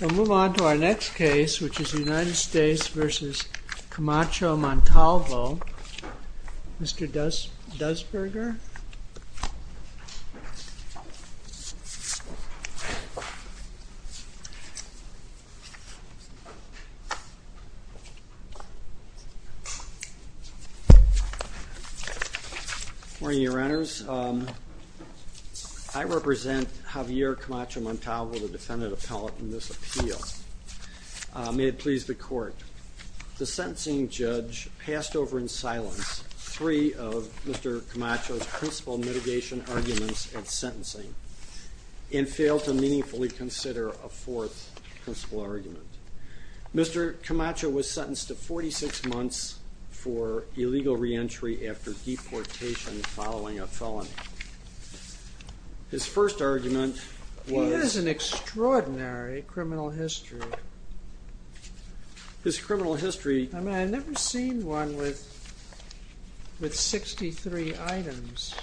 We'll move on to our next case, which is the United States v. Camacho-Montalvo. Mr. Doesberger. Good morning, your honors. I represent Javier Camacho-Montalvo, the defendant appellate in this appeal. The sentencing judge passed over in silence three of Mr. Camacho's principle mitigation arguments at sentencing and failed to meaningfully consider a fourth principle argument. Mr. Camacho was sentenced to 46 months for illegal reentry after deportation following a felony. His first argument was... He has an extraordinary criminal history. His criminal history... I mean, I've never seen one with 63 items,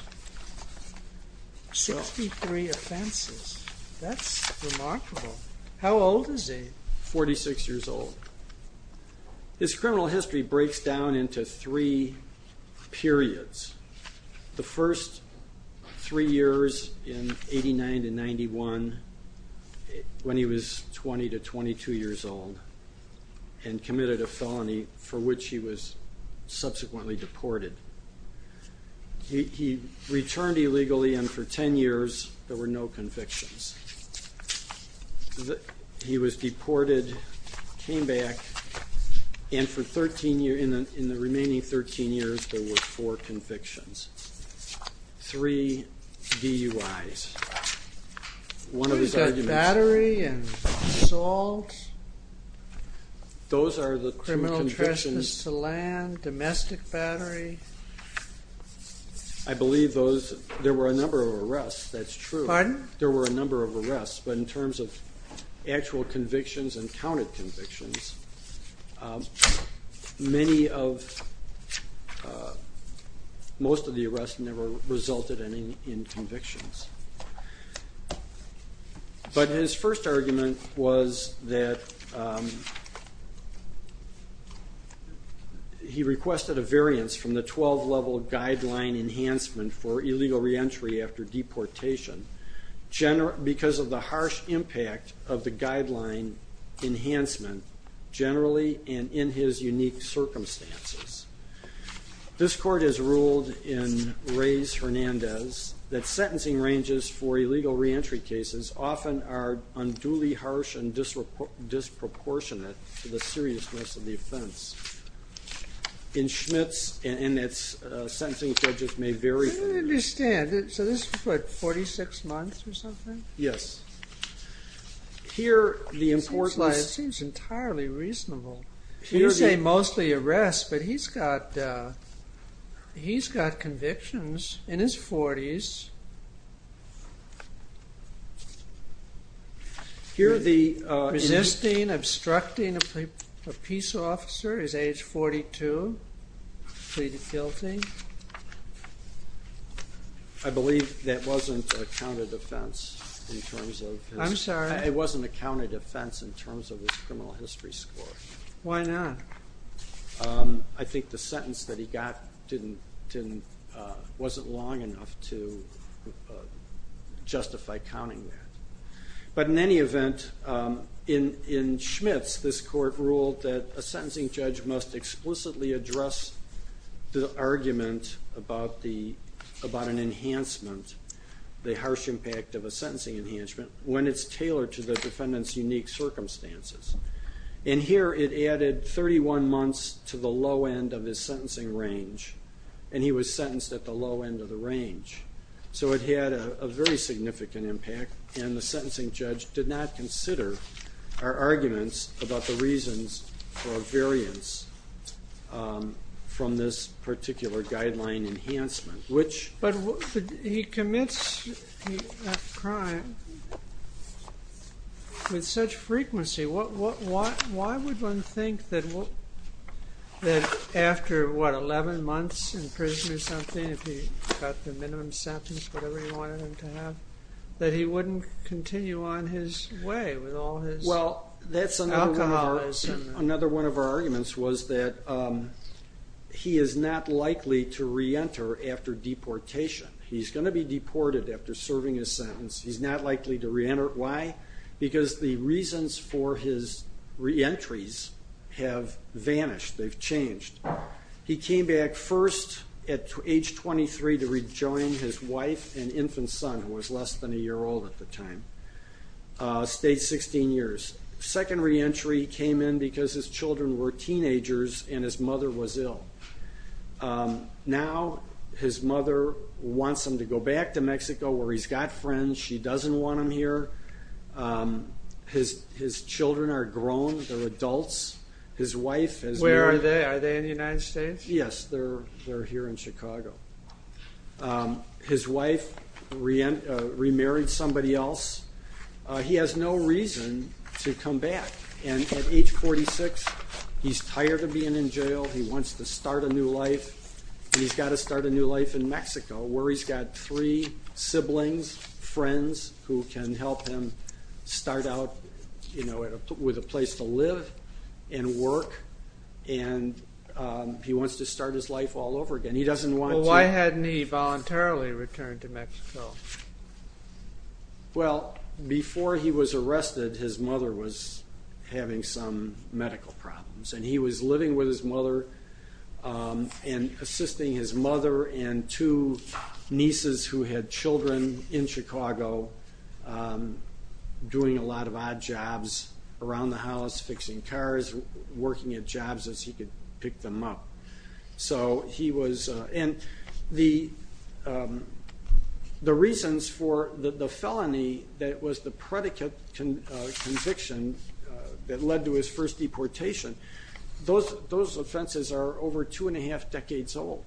63 offenses. That's remarkable. How old is he? and committed a felony for which he was subsequently deported. He returned illegally and for 10 years there were no convictions. He was deported, came back, and for 13 years, in the remaining 13 years, there were four convictions. Three DUIs. He's got battery and assault, criminal trespass to land, domestic battery. I believe there were a number of arrests. That's true. Pardon? There were a number of arrests. But in terms of actual convictions and counted convictions, most of the arrests never resulted in convictions. But his first argument was that he requested a variance from the 12-level guideline enhancement for illegal reentry after deportation because of the harsh impact of the guideline enhancement generally and in his unique circumstances. This court has ruled in Reyes-Hernandez that sentencing ranges for illegal reentry cases often are unduly harsh and disproportionate to the seriousness of the offense. In Schmitz and its sentencing judges may vary... I don't understand. So this is what, 46 months or something? Yes. It seems entirely reasonable. You say mostly arrests, but he's got convictions in his 40s. Resisting, obstructing a peace officer is age 42. Pleaded guilty. I believe that wasn't a count of defense. I'm sorry? It wasn't a count of defense in terms of his criminal history score. Why not? I think the sentence that he got wasn't long enough to justify counting that. But in any event, in Schmitz, this court ruled that a sentencing judge must explicitly address the argument about an enhancement, the harsh impact of a sentencing enhancement, when it's tailored to the defendant's unique circumstances. And here it added 31 months to the low end of his sentencing range, and he was sentenced at the low end of the range. So it had a very significant impact, and the sentencing judge did not consider our arguments about the reasons for a variance from this particular guideline enhancement, which... He left crime with such frequency. Why would one think that after, what, 11 months in prison or something, if he got the minimum sentence, whatever he wanted him to have, that he wouldn't continue on his way with all his alcoholism? Well, that's another one of our arguments, was that he is not likely to reenter after deportation. He's going to be deported after serving his sentence. He's not likely to reenter. Why? Because the reasons for his reentries have vanished. They've changed. He came back first at age 23 to rejoin his wife and infant son, who was less than a year old at the time. Stayed 16 years. Second reentry came in because his children were teenagers and his mother was ill. Now his mother wants him to go back to Mexico where he's got friends. She doesn't want him here. His children are grown. They're adults. His wife has married... Where are they? Are they in the United States? Yes, they're here in Chicago. His wife remarried somebody else. He has no reason to come back, and at age 46, he's tired of being in jail. He wants to start a new life, and he's got to start a new life in Mexico where he's got three siblings, friends who can help him start out with a place to live and work, and he wants to start his life all over again. He doesn't want to... Well, why hadn't he voluntarily returned to Mexico? Well, before he was arrested, his mother was having some medical problems, and he was living with his mother and assisting his mother and two nieces who had children in Chicago, doing a lot of odd jobs around the house, fixing cars, working at jobs as he could pick them up. So he was... And the reasons for the felony that was the predicate conviction that led to his first deportation, those offenses are over two and a half decades old.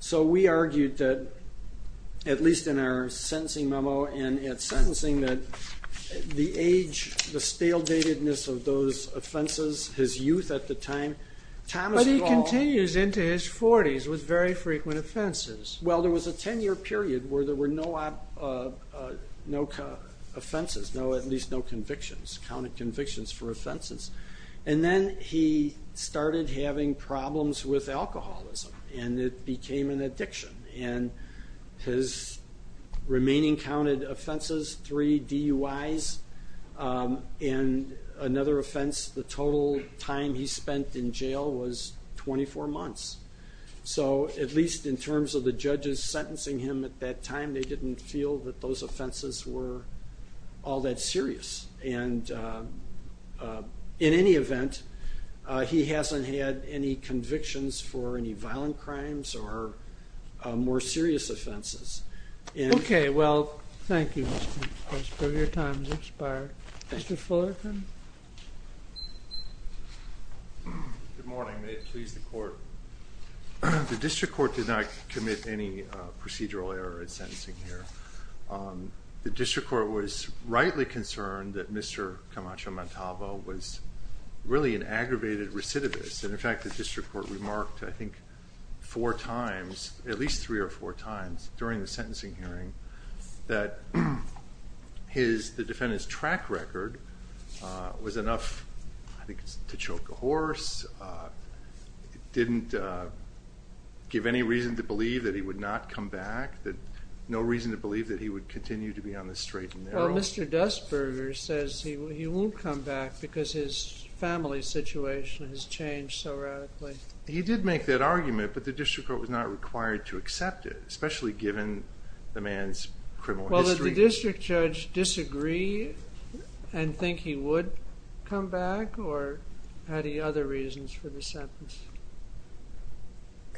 So we argued that, at least in our sentencing memo and at sentencing, that the age, the stale datedness of those offenses, his youth at the time... But he continues into his 40s with very frequent offenses. Well, there was a 10-year period where there were no offenses, at least no convictions, counted convictions for offenses, and then he started having problems with alcoholism, and it became an addiction, and his remaining counted offenses, three DUIs, and another offense, the total time he spent in jail was 24 months. So at least in terms of the judges sentencing him at that time, they didn't feel that those offenses were all that serious. And in any event, he hasn't had any convictions for any violent crimes or more serious offenses. Okay, well, thank you, Mr. Prince, but your time has expired. Mr. Fullerton? Good morning. May it please the Court? The district court did not commit any procedural error in sentencing here. The district court was rightly concerned that Mr. Camacho-Montalvo was really an aggravated recidivist, and, in fact, the district court remarked, I think, four times, at least three or four times, during the sentencing hearing, that the defendant's track record was enough, I think, to choke a horse. It didn't give any reason to believe that he would not come back, no reason to believe that he would continue to be on the straight and narrow. Well, Mr. Dustberger says he won't come back because his family situation has changed so radically. He did make that argument, but the district court was not required to accept it, especially given the man's criminal history. Well, did the district judge disagree and think he would come back, or had he other reasons for the sentence?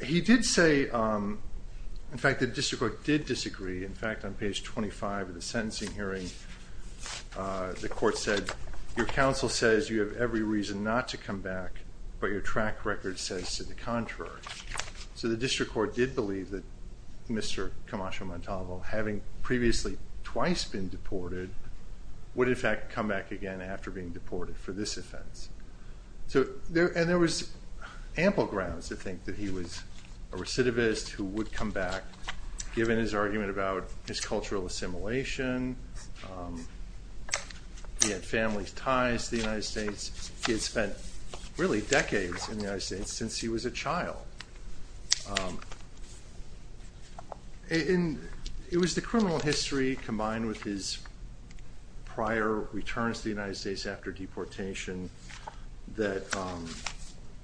He did say, in fact, the district court did disagree. In fact, on page 25 of the sentencing hearing, the court said, Your counsel says you have every reason not to come back, but your track record says to the contrary. So the district court did believe that Mr. Camacho-Montalvo, having previously twice been deported, would, in fact, come back again after being deported for this offense. And there was ample grounds to think that he was a recidivist who would come back, given his argument about his cultural assimilation. He had family ties to the United States. He had spent, really, decades in the United States since he was a child. And it was the criminal history combined with his prior returns to the United States after deportation that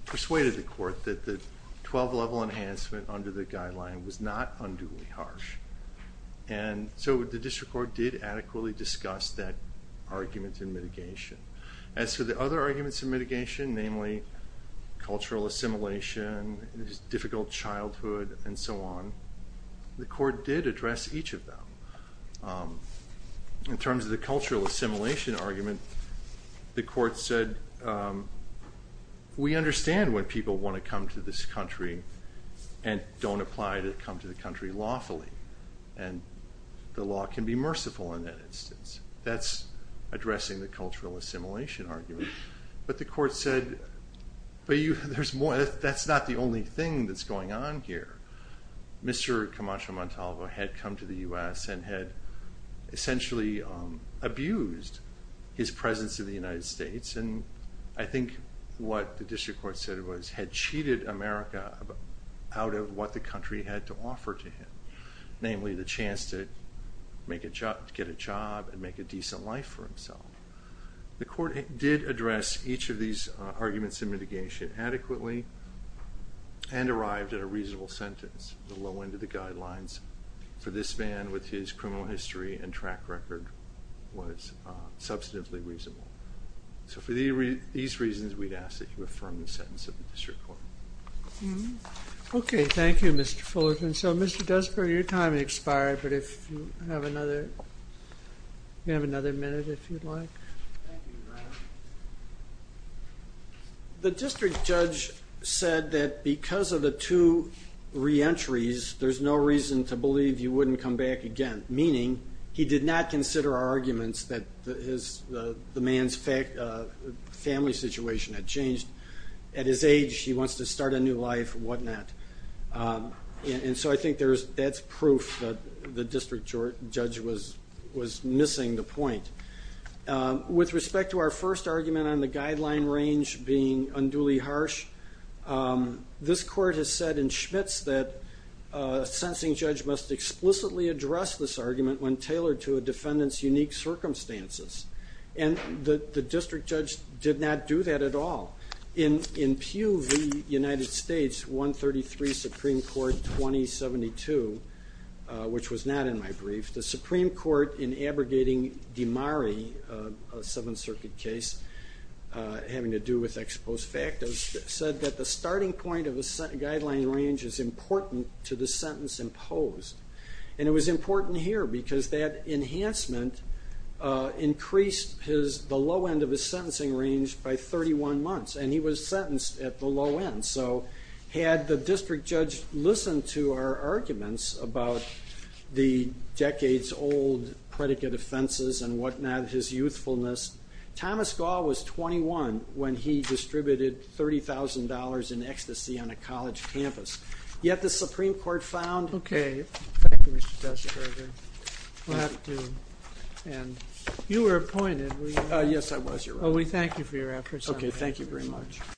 persuaded the court that the 12-level enhancement under the guideline was not unduly harsh. And so the district court did adequately discuss that argument in mitigation. As for the other arguments in mitigation, namely cultural assimilation, his difficult childhood, and so on, the court did address each of them. In terms of the cultural assimilation argument, the court said, We understand when people want to come to this country and don't apply to come to the country lawfully. And the law can be merciful in that instance. That's addressing the cultural assimilation argument. But the court said, That's not the only thing that's going on here. Mr. Camacho Montalvo had come to the U.S. and had essentially abused his presence in the United States. And I think what the district court said was, had cheated America out of what the country had to offer to him, namely the chance to get a job and make a decent life for himself. The court did address each of these arguments in mitigation adequately and arrived at a reasonable sentence. The low end of the guidelines for this man with his criminal history and track record was substantively reasonable. So for these reasons, we'd ask that you affirm the sentence of the district court. Okay. Thank you, Mr. Fullerton. So Mr. Desper, your time has expired, but if you have another minute, if you'd like. The district judge said that because of the two reentries, there's no reason to believe you wouldn't come back again, meaning he did not consider our arguments that the man's family situation had changed. At his age, he wants to start a new life and whatnot. And so I think that's proof that the district judge was missing the point. With respect to our first argument on the guideline range being unduly harsh, this court has said in Schmitz that a sensing judge must explicitly address this argument when tailored to a defendant's unique circumstances. And the district judge did not do that at all. In Pew v. United States, 133 Supreme Court 2072, which was not in my brief, the Supreme Court in abrogating DiMari, a Seventh Circuit case having to do with ex post facto, said that the starting point of a guideline range is important to the sentence imposed. And it was important here because that enhancement increased the low end of his sentencing range by 31 months, and he was sentenced at the low end. So had the district judge listened to our arguments about the decades-old predicate offenses and whatnot, his youthfulness, Thomas Gahl was 21 when he distributed $30,000 in ecstasy on a college campus. Yet the Supreme Court found... Okay. Thank you, Mr. Teschberger. We'll have to end. You were appointed, were you? Yes, I was, Your Honor. Well, we thank you for your efforts. Okay, thank you very much.